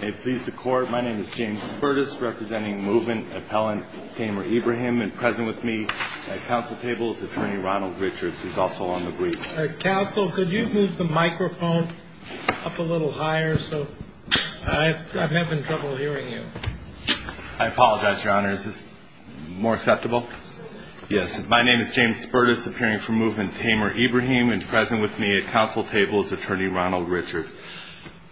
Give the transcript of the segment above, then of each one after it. May it please the court, my name is James Spertus, representing Movement Appellant Tamer Ibrahim, and present with me at counsel table is Attorney Ronald Richards, who is also on the brief. Counsel, could you move the microphone up a little higher? I'm having trouble hearing you. I apologize, Your Honor. Is this more acceptable? Yes. My name is James Spertus, appearing for Movement Tamer Ibrahim, and present with me at counsel table is Attorney Ronald Richards.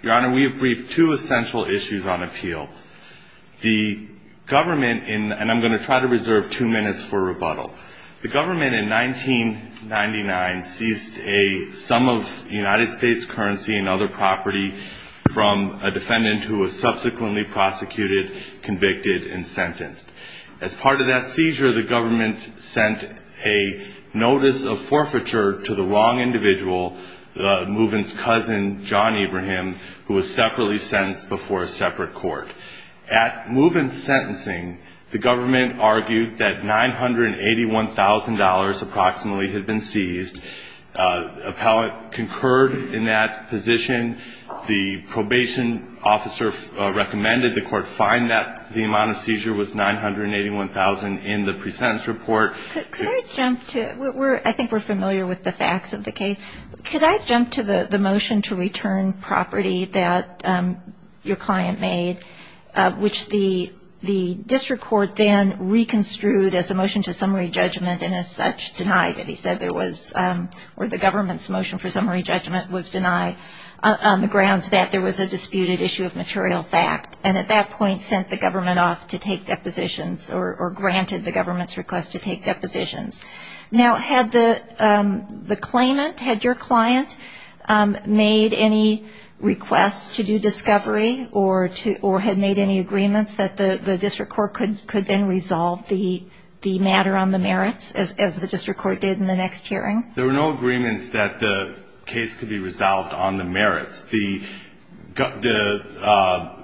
Your Honor, we have briefed two essential issues on appeal. The government, and I'm going to try to reserve two minutes for rebuttal. The government in 1999 seized a sum of United States currency and other property from a defendant who was subsequently prosecuted, convicted, and sentenced. As part of that seizure, the government sent a notice of forfeiture to the wrong individual, Movement's cousin John Ibrahim, who was separately sentenced before a separate court. At Movement's sentencing, the government argued that $981,000 approximately had been seized. Appellant concurred in that position. The probation officer recommended the court find that the amount of seizure was $981,000 in the pre-sentence report. Could I jump to – I think we're familiar with the facts of the case. Could I jump to the motion to return property that your client made, which the district court then reconstrued as a motion to summary judgment, and as such denied it. He said there was – or the government's motion for summary judgment was denied on the grounds that there was a disputed issue of material fact, and at that point sent the government off to take depositions or granted the government's request to take depositions. Now, had the claimant, had your client made any requests to do discovery or had made any agreements that the district court could then resolve the matter on the merits, as the district court did in the next hearing? There were no agreements that the case could be resolved on the merits. The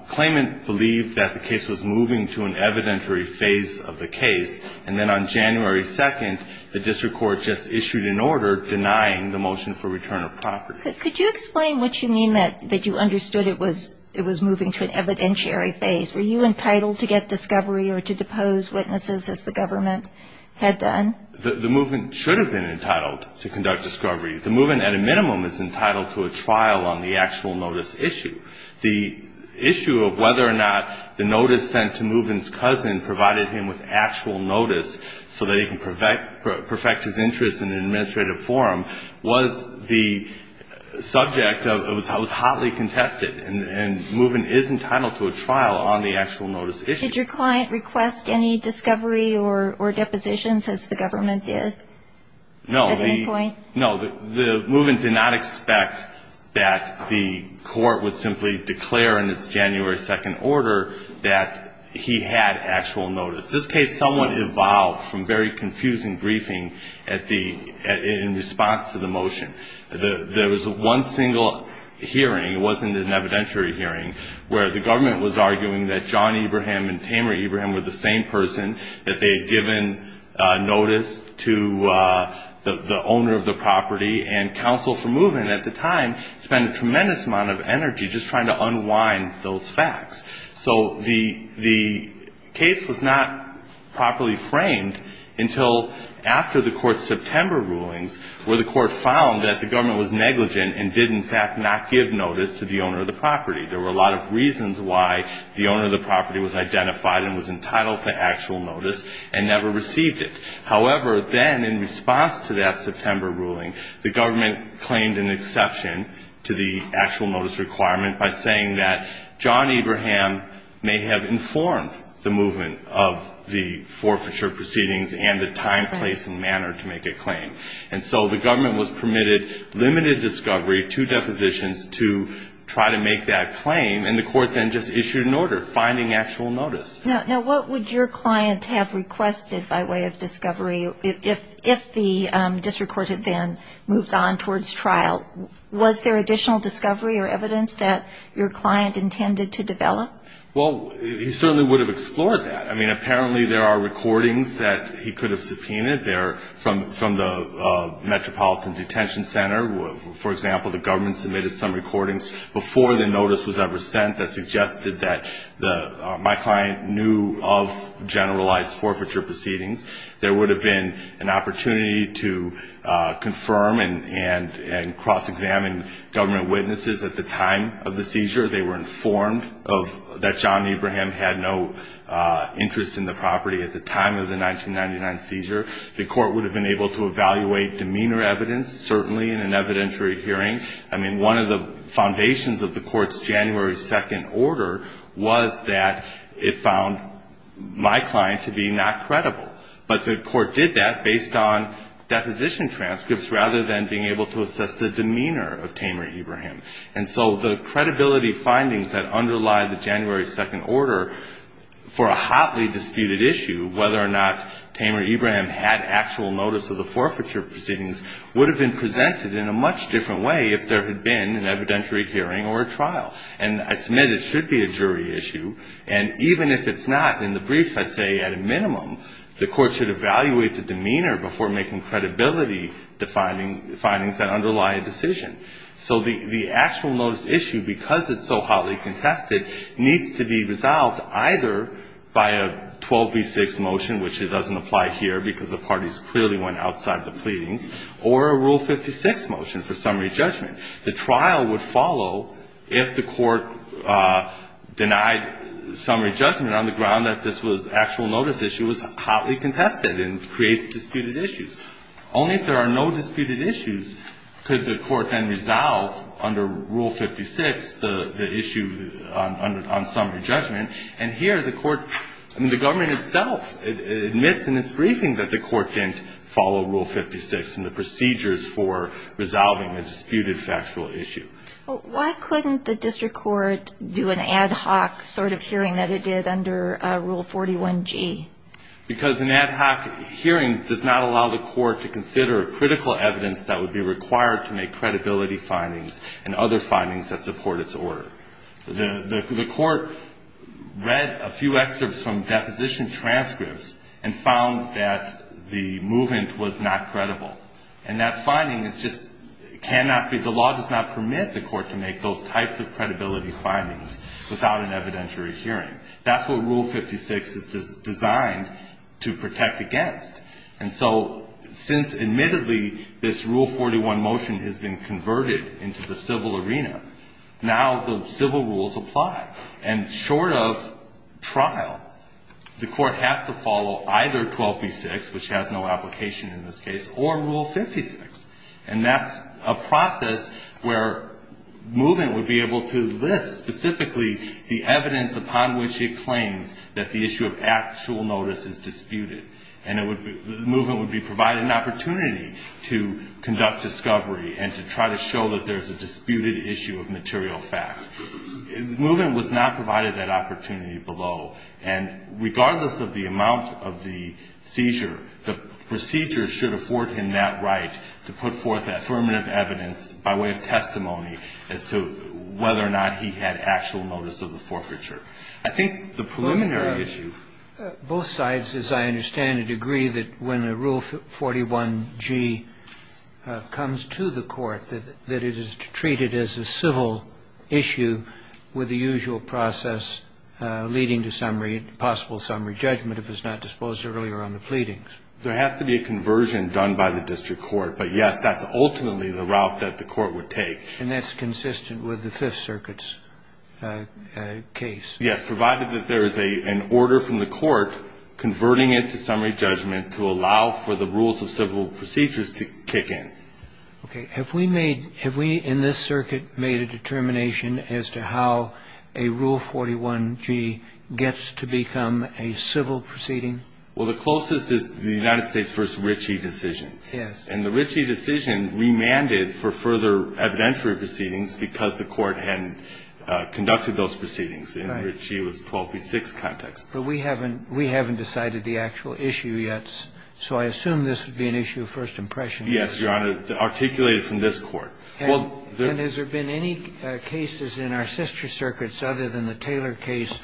claimant believed that the case was moving to an evidentiary phase of the case, and then on January 2nd, the district court just issued an order denying the motion for return of property. Could you explain what you mean that you understood it was moving to an evidentiary phase? Were you entitled to get discovery or to depose witnesses as the government had done? The movement should have been entitled to conduct discovery. The movement, at a minimum, is entitled to a trial on the actual notice issue. The issue of whether or not the notice sent to Moven's cousin provided him with actual notice so that he can perfect his interest in an administrative forum was the subject of – it was hotly contested, and Moven is entitled to a trial on the actual notice issue. Did your client request any discovery or depositions as the government did at any point? No. The Moven did not expect that the court would simply declare in its January 2nd order that he had actual notice. This case somewhat evolved from very confusing briefing at the – in response to the motion. There was one single hearing. It wasn't an evidentiary hearing where the government was arguing that John Abraham and Tamer Abraham were the same person, that they had given notice to the owner of the property. And counsel for Moven at the time spent a tremendous amount of energy just trying to unwind those facts. So the case was not properly framed until after the court's September rulings, where the court found that the government was negligent and did, in fact, not give notice to the owner of the property. There were a lot of reasons why the owner of the property was identified and was entitled to actual notice and never received it. However, then in response to that September ruling, the government claimed an exception to the actual notice requirement by saying that John Abraham may have informed the Moven of the forfeiture proceedings and the time, place, and manner to make a claim. And so the government was permitted limited discovery, two depositions, to try to make that claim. And the court then just issued an order finding actual notice. Now, what would your client have requested by way of discovery if the district court had then moved on towards trial? Was there additional discovery or evidence that your client intended to develop? Well, he certainly would have explored that. I mean, apparently there are recordings that he could have subpoenaed there from the Metropolitan Detention Center. For example, the government submitted some recordings before the notice was ever sent that suggested that my client knew of generalized forfeiture proceedings. There would have been an opportunity to confirm and cross-examine government witnesses at the time of the seizure. They were informed that John Abraham had no interest in the property at the time of the 1999 seizure. The court would have been able to evaluate demeanor evidence, certainly in an evidentiary hearing. I mean, one of the foundations of the court's January 2nd order was that it found my client to be not credible. But the court did that based on deposition transcripts rather than being able to assess the demeanor of Tamer Abraham. And so the credibility findings that underlie the January 2nd order for a hotly disputed issue, whether or not Tamer Abraham had actual notice of the forfeiture proceedings, would have been presented in a much different way if there had been an evidentiary hearing or a trial. And I submit it should be a jury issue. And even if it's not, in the briefs I say at a minimum, the court should evaluate the demeanor before making credibility findings that underlie a decision. So the actual notice issue, because it's so hotly contested, needs to be resolved either by a 12B6 motion, which it doesn't apply here because the parties clearly went outside the pleadings, or a Rule 56 motion for summary judgment. The trial would follow if the court denied summary judgment on the ground that this actual notice issue was hotly contested and creates disputed issues. Only if there are no disputed issues could the court then resolve under Rule 56 the issue on summary judgment. And here the court, I mean, the government itself admits in its briefing that the court didn't follow Rule 56 and the procedures for resolving a disputed factual issue. But why couldn't the district court do an ad hoc sort of hearing that it did under Rule 41G? Because an ad hoc hearing does not allow the court to consider critical evidence that would be required to make credibility findings and other findings that support its order. The court read a few excerpts from deposition transcripts and found that the movement was not credible. And that finding is just cannot be, the law does not permit the court to make those types of credibility findings without an evidentiary hearing. That's what Rule 56 is designed to protect against. And so since admittedly this Rule 41 motion has been converted into the civil arena, now the civil rules apply. And short of trial, the court has to follow either 12B6, which has no application in this case, or Rule 56. And that's a process where movement would be able to list specifically the evidence upon which it claims that the issue of actual notice is disputed. And the movement would be provided an opportunity to conduct discovery and to try to show that there's a disputed issue of material fact. Movement was not provided that opportunity below. And regardless of the amount of the seizure, the procedure should afford him that right to put forth affirmative evidence by way of testimony as to whether or not he had actual notice of the forfeiture. I think the preliminary issue of both sides, as I understand it, agree that when a Rule 41G comes to the court, that it is treated as a civil issue with the usual process leading to possible summary judgment if it's not disposed earlier on the pleadings. There has to be a conversion done by the district court. But, yes, that's ultimately the route that the court would take. And that's consistent with the Fifth Circuit's case. Yes, provided that there is an order from the court converting it to summary judgment to allow for the rules of civil procedures to kick in. Okay. Have we made – have we in this circuit made a determination as to how a Rule 41G gets to become a civil proceeding? Well, the closest is the United States v. Ritchie decision. Yes. And the Ritchie decision remanded for further evidentiary proceedings because the court hadn't conducted those proceedings. Right. In Ritchie, it was 12 v. 6 context. But we haven't – we haven't decided the actual issue yet. So I assume this would be an issue of first impression. Yes, Your Honor. Articulated from this court. And has there been any cases in our sister circuits other than the Taylor case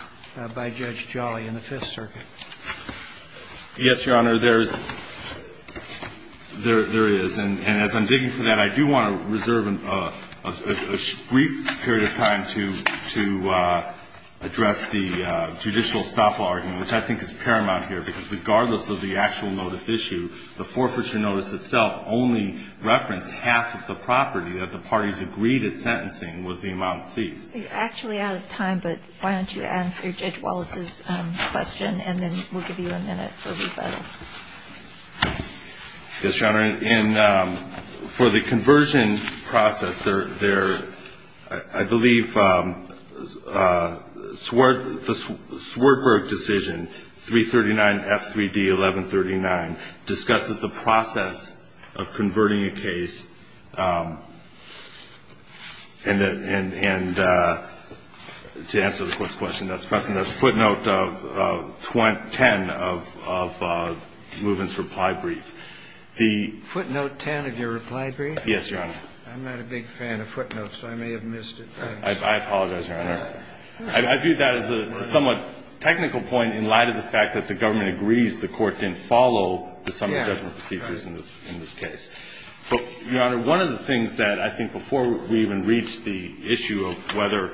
by Judge Jolly in the Fifth Circuit? Yes, Your Honor. There is. And as I'm digging for that, I do want to reserve a brief period of time to address the judicial estoppel argument, which I think is paramount here, because regardless of the actual notice issue, the forfeiture notice itself only referenced half of the property that the parties agreed at sentencing was the amount seized. You're actually out of time, but why don't you answer Judge Wallace's question, and then we'll give you a minute for rebuttal. Yes, Your Honor. For the conversion process, I believe the Swartberg decision, 339F3D1139, discusses the process of converting a case, and to answer the Court's question, that's footnote 10 of Muvin's reply brief. The ---- Footnote 10 of your reply brief? Yes, Your Honor. I'm not a big fan of footnotes, so I may have missed it. I apologize, Your Honor. I view that as a somewhat technical point in light of the fact that the government agrees the Court didn't follow some of the different procedures in this case. But, Your Honor, one of the things that I think before we even reach the issue of whether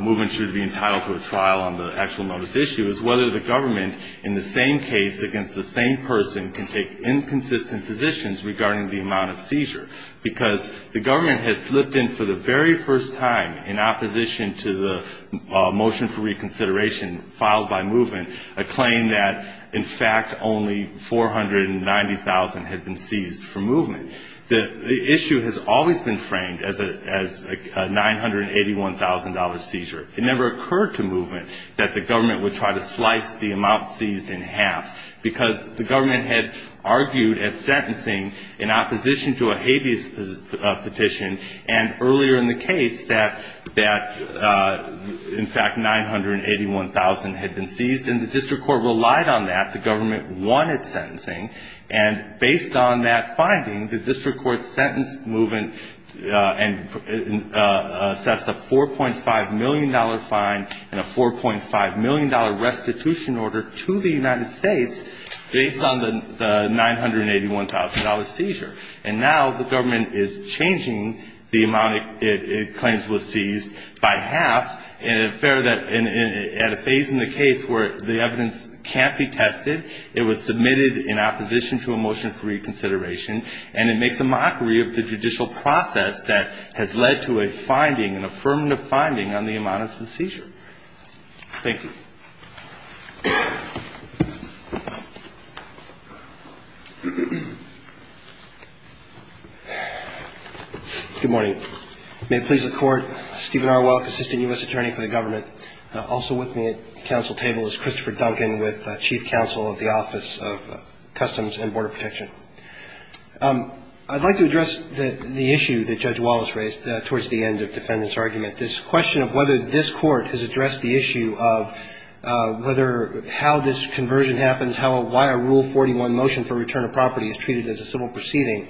Muvin should be entitled to a trial on the actual notice issue is whether the government in the same case against the same person can take inconsistent positions regarding the amount of seizure. Because the government has slipped in for the very first time in opposition to the motion for reconsideration filed by Muvin, a claim that, in fact, only 490,000 had been seized from Muvin. The issue has always been framed as a $981,000 seizure. It never occurred to Muvin that the government would try to slice the amount seized in half, because the government had argued at sentencing in opposition to a habeas petition, and earlier in the case that, in fact, 981,000 had been seized, and the district court relied on that. The government wanted sentencing. And based on that finding, the district court sentenced Muvin and assessed a $4.5 million fine and a $4.5 million restitution order to the United States based on the $981,000 seizure. And now the government is changing the amount it claims was seized by half in an affair at a phase in the case where the evidence can't be tested. It was submitted in opposition to a motion for reconsideration, and it makes a mockery of the judicial process that has led to a finding, an affirmative finding, on the amount of the seizure. Thank you. Good morning. May it please the Court, Stephen R. Welk, Assistant U.S. Attorney for the Government. Also with me at the council table is Christopher Duncan, with Chief Counsel of the Office of Customs and Border Protection. I'd like to address the issue that Judge Wallace raised towards the end of defendant's argument, this question of whether this Court has addressed the issue of whether how this conversion happens, why a Rule 41 motion for return of property is treated as a civil proceeding,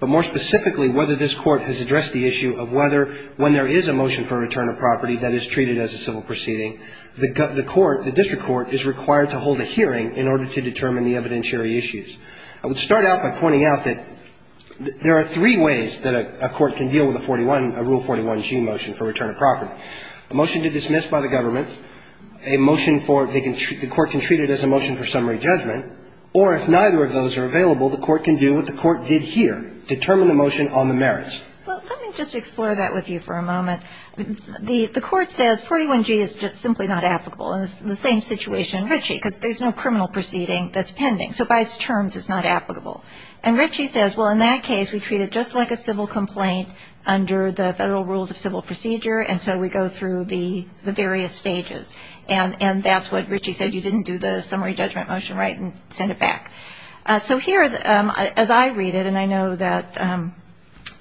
but more specifically whether this Court has addressed the issue of whether when there is a motion for return of property that is treated as a civil proceeding, the court, the district court, is required to hold a hearing in order to determine the evidentiary issues. I would start out by pointing out that there are three ways that a court can deal with a 41, a Rule 41G motion for return of property, a motion to dismiss by the government, a motion for the court can treat it as a motion for summary judgment, or if neither of those are available, the court can do what the court did here, determine the motion on the merits. Well, let me just explore that with you for a moment. The court says 41G is just simply not applicable, and it's the same situation in Ritchie, because there's no criminal proceeding that's pending. So by its terms, it's not applicable. And Ritchie says, well, in that case, we treat it just like a civil complaint under the Federal Rules of Civil Procedure, and so we go through the various stages. And that's what Ritchie said, you didn't do the summary judgment motion right and send it back. So here, as I read it, and I know that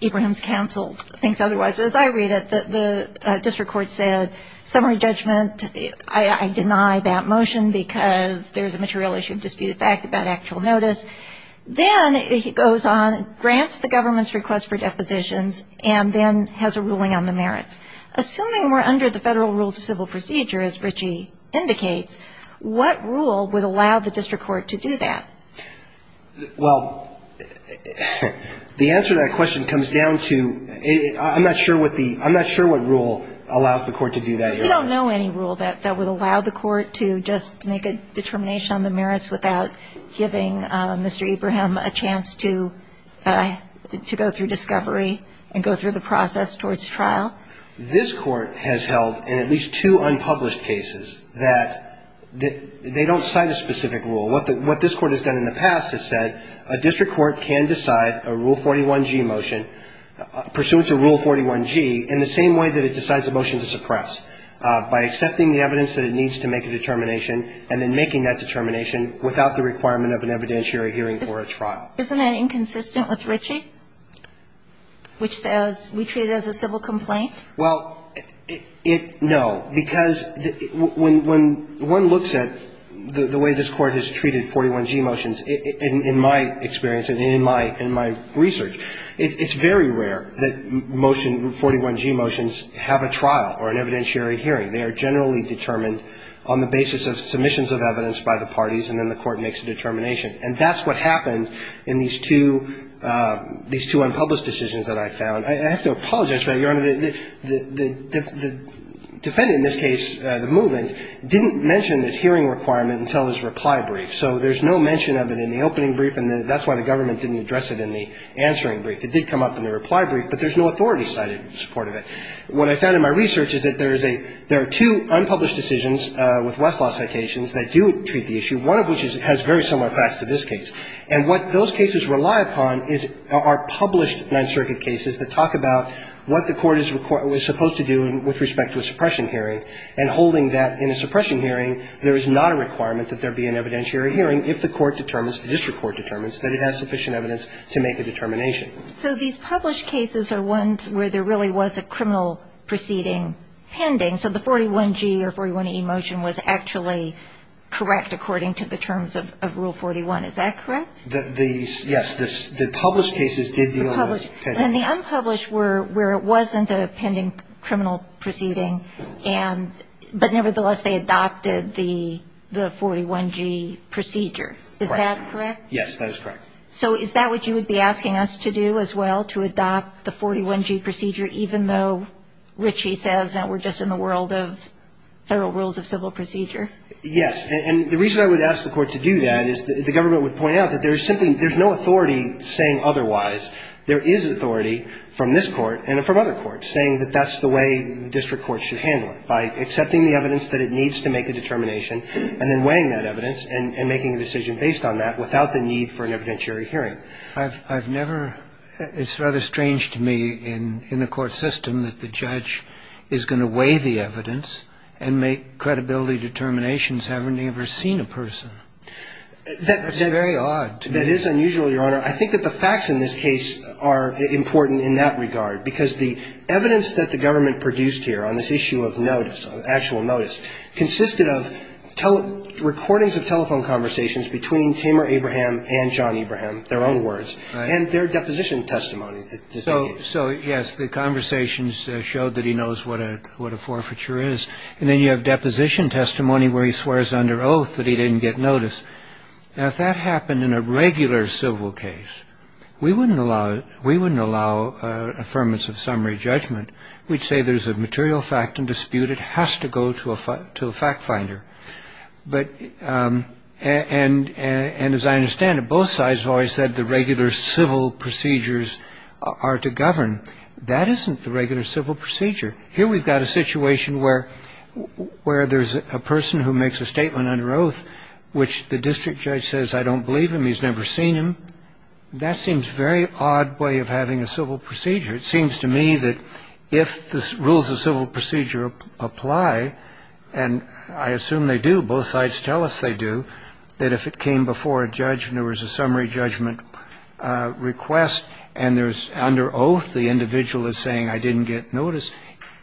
Ibrahim's counsel thinks otherwise, but as I read it, the district court said summary judgment, I deny that motion because there's a material issue of disputed fact about actual notice. Then he goes on, grants the government's request for depositions, and then has a ruling on the merits. Assuming we're under the Federal Rules of Civil Procedure, as Ritchie indicates, what rule would allow the district court to do that? Well, the answer to that question comes down to I'm not sure what rule allows the court to do that here. We don't know any rule that would allow the court to just make a determination on the merits without giving Mr. Ibrahim a chance to go through discovery and go through the process towards trial. This court has held in at least two unpublished cases that they don't cite a specific rule. What this court has done in the past has said a district court can decide a Rule 41G motion, pursuant to Rule 41G, in the same way that it decides a motion to suppress, by accepting the evidence that it needs to make a determination and then making that determination without the requirement of an evidentiary hearing or a trial. Isn't that inconsistent with Ritchie, which says we treat it as a civil complaint? Well, it no, because when one looks at the way this court has treated 41G motions, in my experience and in my research, it's very rare that motion, 41G motions, have a trial or an evidentiary hearing. They are generally determined on the basis of submissions of evidence by the parties and then the court makes a determination. And that's what happened in these two unpublished decisions that I found. I have to apologize for that, Your Honor. The defendant in this case, the movement, didn't mention this hearing requirement until his reply brief. So there's no mention of it in the opening brief, and that's why the government didn't address it in the answering brief. It did come up in the reply brief, but there's no authority cited in support of it. What I found in my research is that there is a – there are two unpublished decisions with Westlaw citations that do treat the issue, one of which is – has very similar facts to this case. And what those cases rely upon is – are published Ninth Circuit cases that talk about what the court is – was supposed to do with respect to a suppression hearing, and holding that in a suppression hearing, there is not a requirement that there be an evidentiary hearing if the court determines, the district court determines, that it has sufficient evidence to make a determination. So these published cases are ones where there really was a criminal proceeding pending. So the 41G or 41E motion was actually correct according to the terms of Rule 41. Is that correct? The – yes. The published cases did deal with pending. Nevertheless, they adopted the – the 41G procedure. Correct. Is that correct? Yes, that is correct. So is that what you would be asking us to do as well, to adopt the 41G procedure even though Richie says that we're just in the world of federal rules of civil procedure? Yes. And the reason I would ask the court to do that is the government would point out that there's simply – there's no authority saying otherwise. There is authority from this court and from other courts saying that that's the way district courts should handle it, by accepting the evidence that it needs to make a determination and then weighing that evidence and making a decision based on that without the need for an evidentiary hearing. I've never – it's rather strange to me in the court system that the judge is going to weigh the evidence and make credibility determinations having never seen a person. That's very odd. That is unusual, Your Honor. I think that the facts in this case are important in that regard because the evidence that the government produced here on this issue of notice, actual notice, consisted of recordings of telephone conversations between Tamer Abraham and John Abraham, their own words, and their deposition testimony. So, yes, the conversations showed that he knows what a forfeiture is. And then you have deposition testimony where he swears under oath that he didn't get notice. Now, if that happened in a regular civil case, we wouldn't allow – we wouldn't allow that. We'd say there's a material fact in dispute. It has to go to a fact finder. But – and as I understand it, both sides have always said the regular civil procedures are to govern. That isn't the regular civil procedure. Here we've got a situation where there's a person who makes a statement under oath which the district judge says, I don't believe him, he's never seen him. That seems a very odd way of having a civil procedure. It seems to me that if the rules of civil procedure apply, and I assume they do, both sides tell us they do, that if it came before a judge and there was a summary judgment request and there's – under oath the individual is saying I didn't get notice,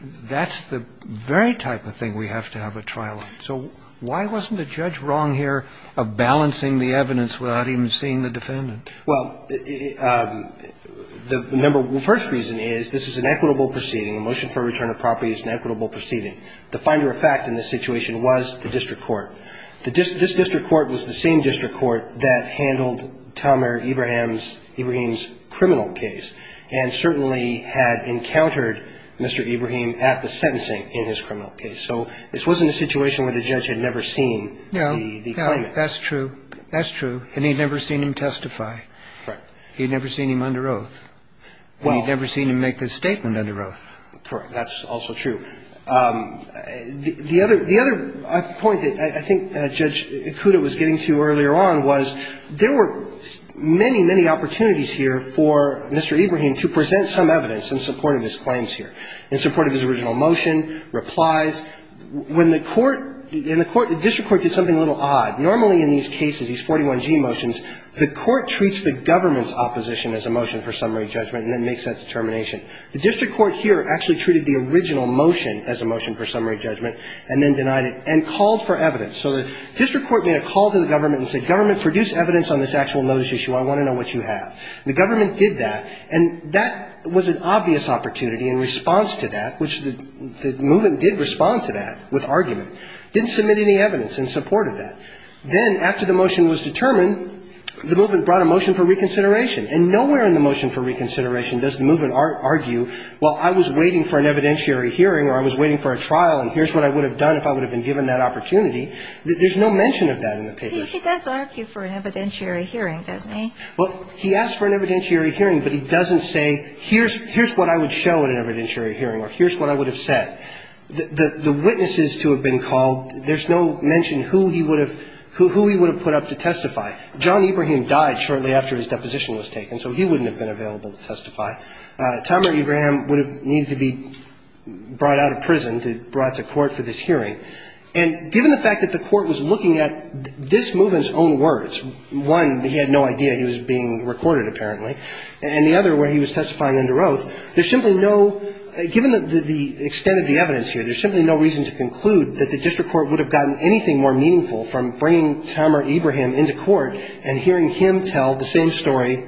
that's the very type of thing we have to have a trial on. So why wasn't a judge wrong here of balancing the evidence without even seeing the defendant? Well, the member – the first reason is this is an equitable proceeding. A motion for return of property is an equitable proceeding. The finder of fact in this situation was the district court. This district court was the same district court that handled Tamir Ibrahim's criminal case, and certainly had encountered Mr. Ibrahim at the sentencing in his criminal case. So this wasn't a situation where the judge had never seen the claimant. No, no, that's true. That's true. And he'd never seen him testify. Right. He'd never seen him under oath. And he'd never seen him make this statement under oath. Correct. That's also true. The other – the other point that I think Judge Ikuda was getting to earlier on was there were many, many opportunities here for Mr. Ibrahim to present some evidence in support of his claims here, in support of his original motion, replies. When the court – and the court – the district court did something a little odd. Normally in these cases, these 41G motions, the court treats the government's opposition as a motion for summary judgment and then makes that determination. The district court here actually treated the original motion as a motion for summary judgment and then denied it and called for evidence. So the district court made a call to the government and said, Government, produce evidence on this actual notice issue. I want to know what you have. The government did that, and that was an obvious opportunity in response to that, which the movement did respond to that with argument. Didn't submit any evidence in support of that. Then, after the motion was determined, the movement brought a motion for reconsideration. And nowhere in the motion for reconsideration does the movement argue, well, I was waiting for an evidentiary hearing or I was waiting for a trial, and here's what I would have done if I would have been given that opportunity. There's no mention of that in the papers. He does argue for an evidentiary hearing, doesn't he? Well, he asks for an evidentiary hearing, but he doesn't say, here's – here's what I would show at an evidentiary hearing or here's what I would have said. The witnesses to have been called, there's no mention who he would have – who he would have put up to testify. John Ibrahim died shortly after his deposition was taken, so he wouldn't have been available to testify. Tomer Ibrahim would have needed to be brought out of prison to – brought to court for this hearing. And given the fact that the court was looking at this movement's own words, one, he had no idea he was being recorded, apparently, and the other, where he was testifying under oath, there's simply no – given the extent of the evidence here, there's simply no reason to conclude that the district court would have gotten anything more meaningful from bringing Tomer Ibrahim into court and hearing him tell the same story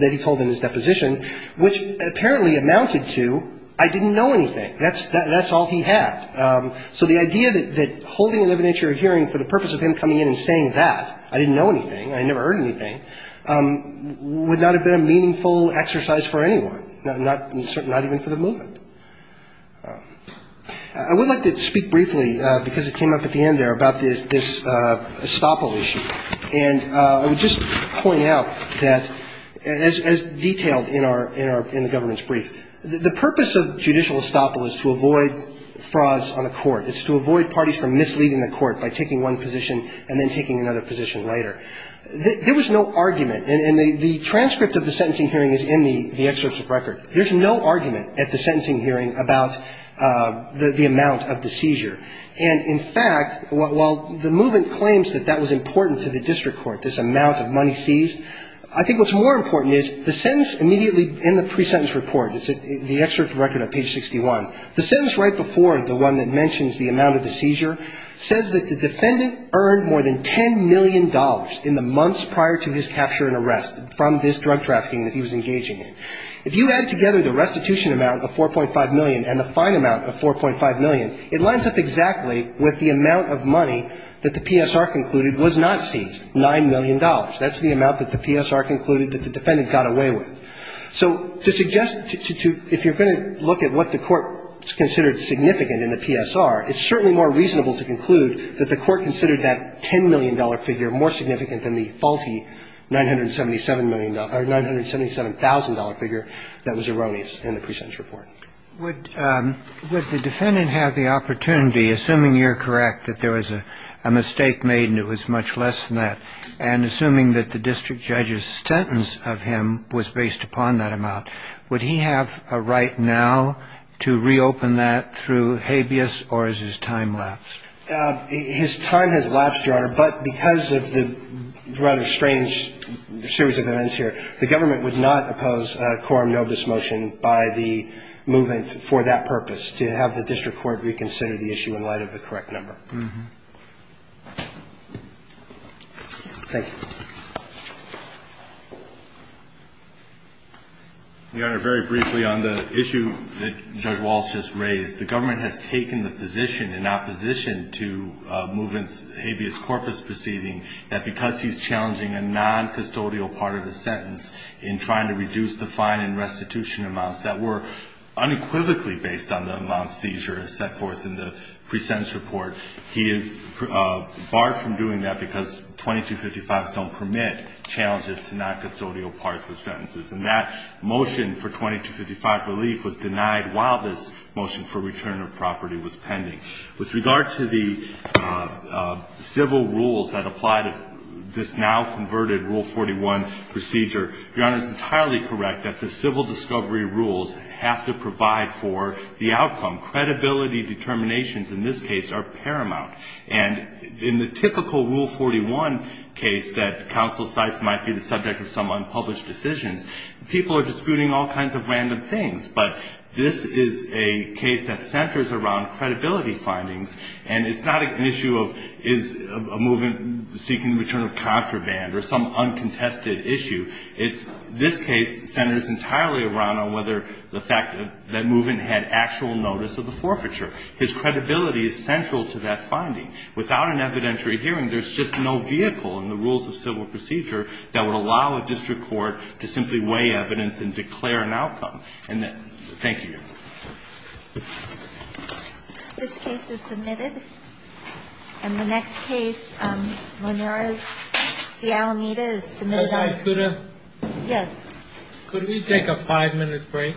that he told in his deposition, which apparently amounted to, I didn't know anything. That's all he had. So the idea that holding an evidentiary hearing for the purpose of him coming in and saying that, I didn't know anything, I never heard anything, would not have been a reasonable argument, not even for the movement. I would like to speak briefly, because it came up at the end there, about this estoppel issue. And I would just point out that, as detailed in our – in the government's brief, the purpose of judicial estoppel is to avoid frauds on the court. It's to avoid parties from misleading the court by taking one position and then taking another position later. There was no argument, and the transcript of the sentencing hearing is in the excerpts of record, there's no argument at the sentencing hearing about the amount of the seizure. And, in fact, while the movement claims that that was important to the district court, this amount of money seized, I think what's more important is the sentence immediately in the pre-sentence report, it's the excerpt of record on page 61, the sentence right before the one that mentions the amount of the seizure says that the defendant earned more than $10 million in the months prior to his capture and arrest from this drug trafficking that he was engaging in. If you add together the restitution amount of $4.5 million and the fine amount of $4.5 million, it lines up exactly with the amount of money that the PSR concluded was not seized, $9 million. That's the amount that the PSR concluded that the defendant got away with. So to suggest to – if you're going to look at what the court considered significant in the PSR, it's certainly more reasonable to conclude that the court considered that $10 million figure more significant than the faulty $977 million – $977,000 figure that was erroneous in the pre-sentence report. Would the defendant have the opportunity, assuming you're correct, that there was a mistake made and it was much less than that, and assuming that the district judge's sentence of him was based upon that amount, would he have a right now to reopen that through habeas or is his time lapsed? His time has lapsed, Your Honor, but because of the rather strange series of events here, the government would not oppose quorum nobis motion by the movement for that purpose, to have the district court reconsider the issue in light of the correct number. Thank you. Your Honor, very briefly on the issue that Judge Walsh just raised, the government has taken the position in opposition to movement's habeas corpus proceeding that because he's challenging a non-custodial part of the sentence in trying to reduce the fine and restitution amounts that were unequivocally based on the amount seizure set forth in the pre-sentence report, he is barred from doing that because 2255s don't permit challenges to non-custodial parts of sentences. And that motion for 2255 relief was denied while this motion for return of property was pending. With regard to the civil rules that apply to this now converted Rule 41 procedure, Your Honor is entirely correct that the civil discovery rules have to provide for the outcome. Credibility determinations in this case are paramount. And in the typical Rule 41 case that counsel cites might be the subject of some unpublished decisions, people are disputing all kinds of random things. But this is a case that centers around credibility findings, and it's not an issue of is a movement seeking the return of contraband or some uncontested issue. It's this case centers entirely around whether the fact that movement had actual notice of the forfeiture. His credibility is central to that finding. Without an evidentiary hearing, there's just no vehicle in the rules of civil procedure that would allow a district court to simply weigh evidence and declare an outcome. And thank you. This case is submitted. And the next case, Monera's Fialanita is submitted. Yes. Could we take a five-minute break? Of course. Sure.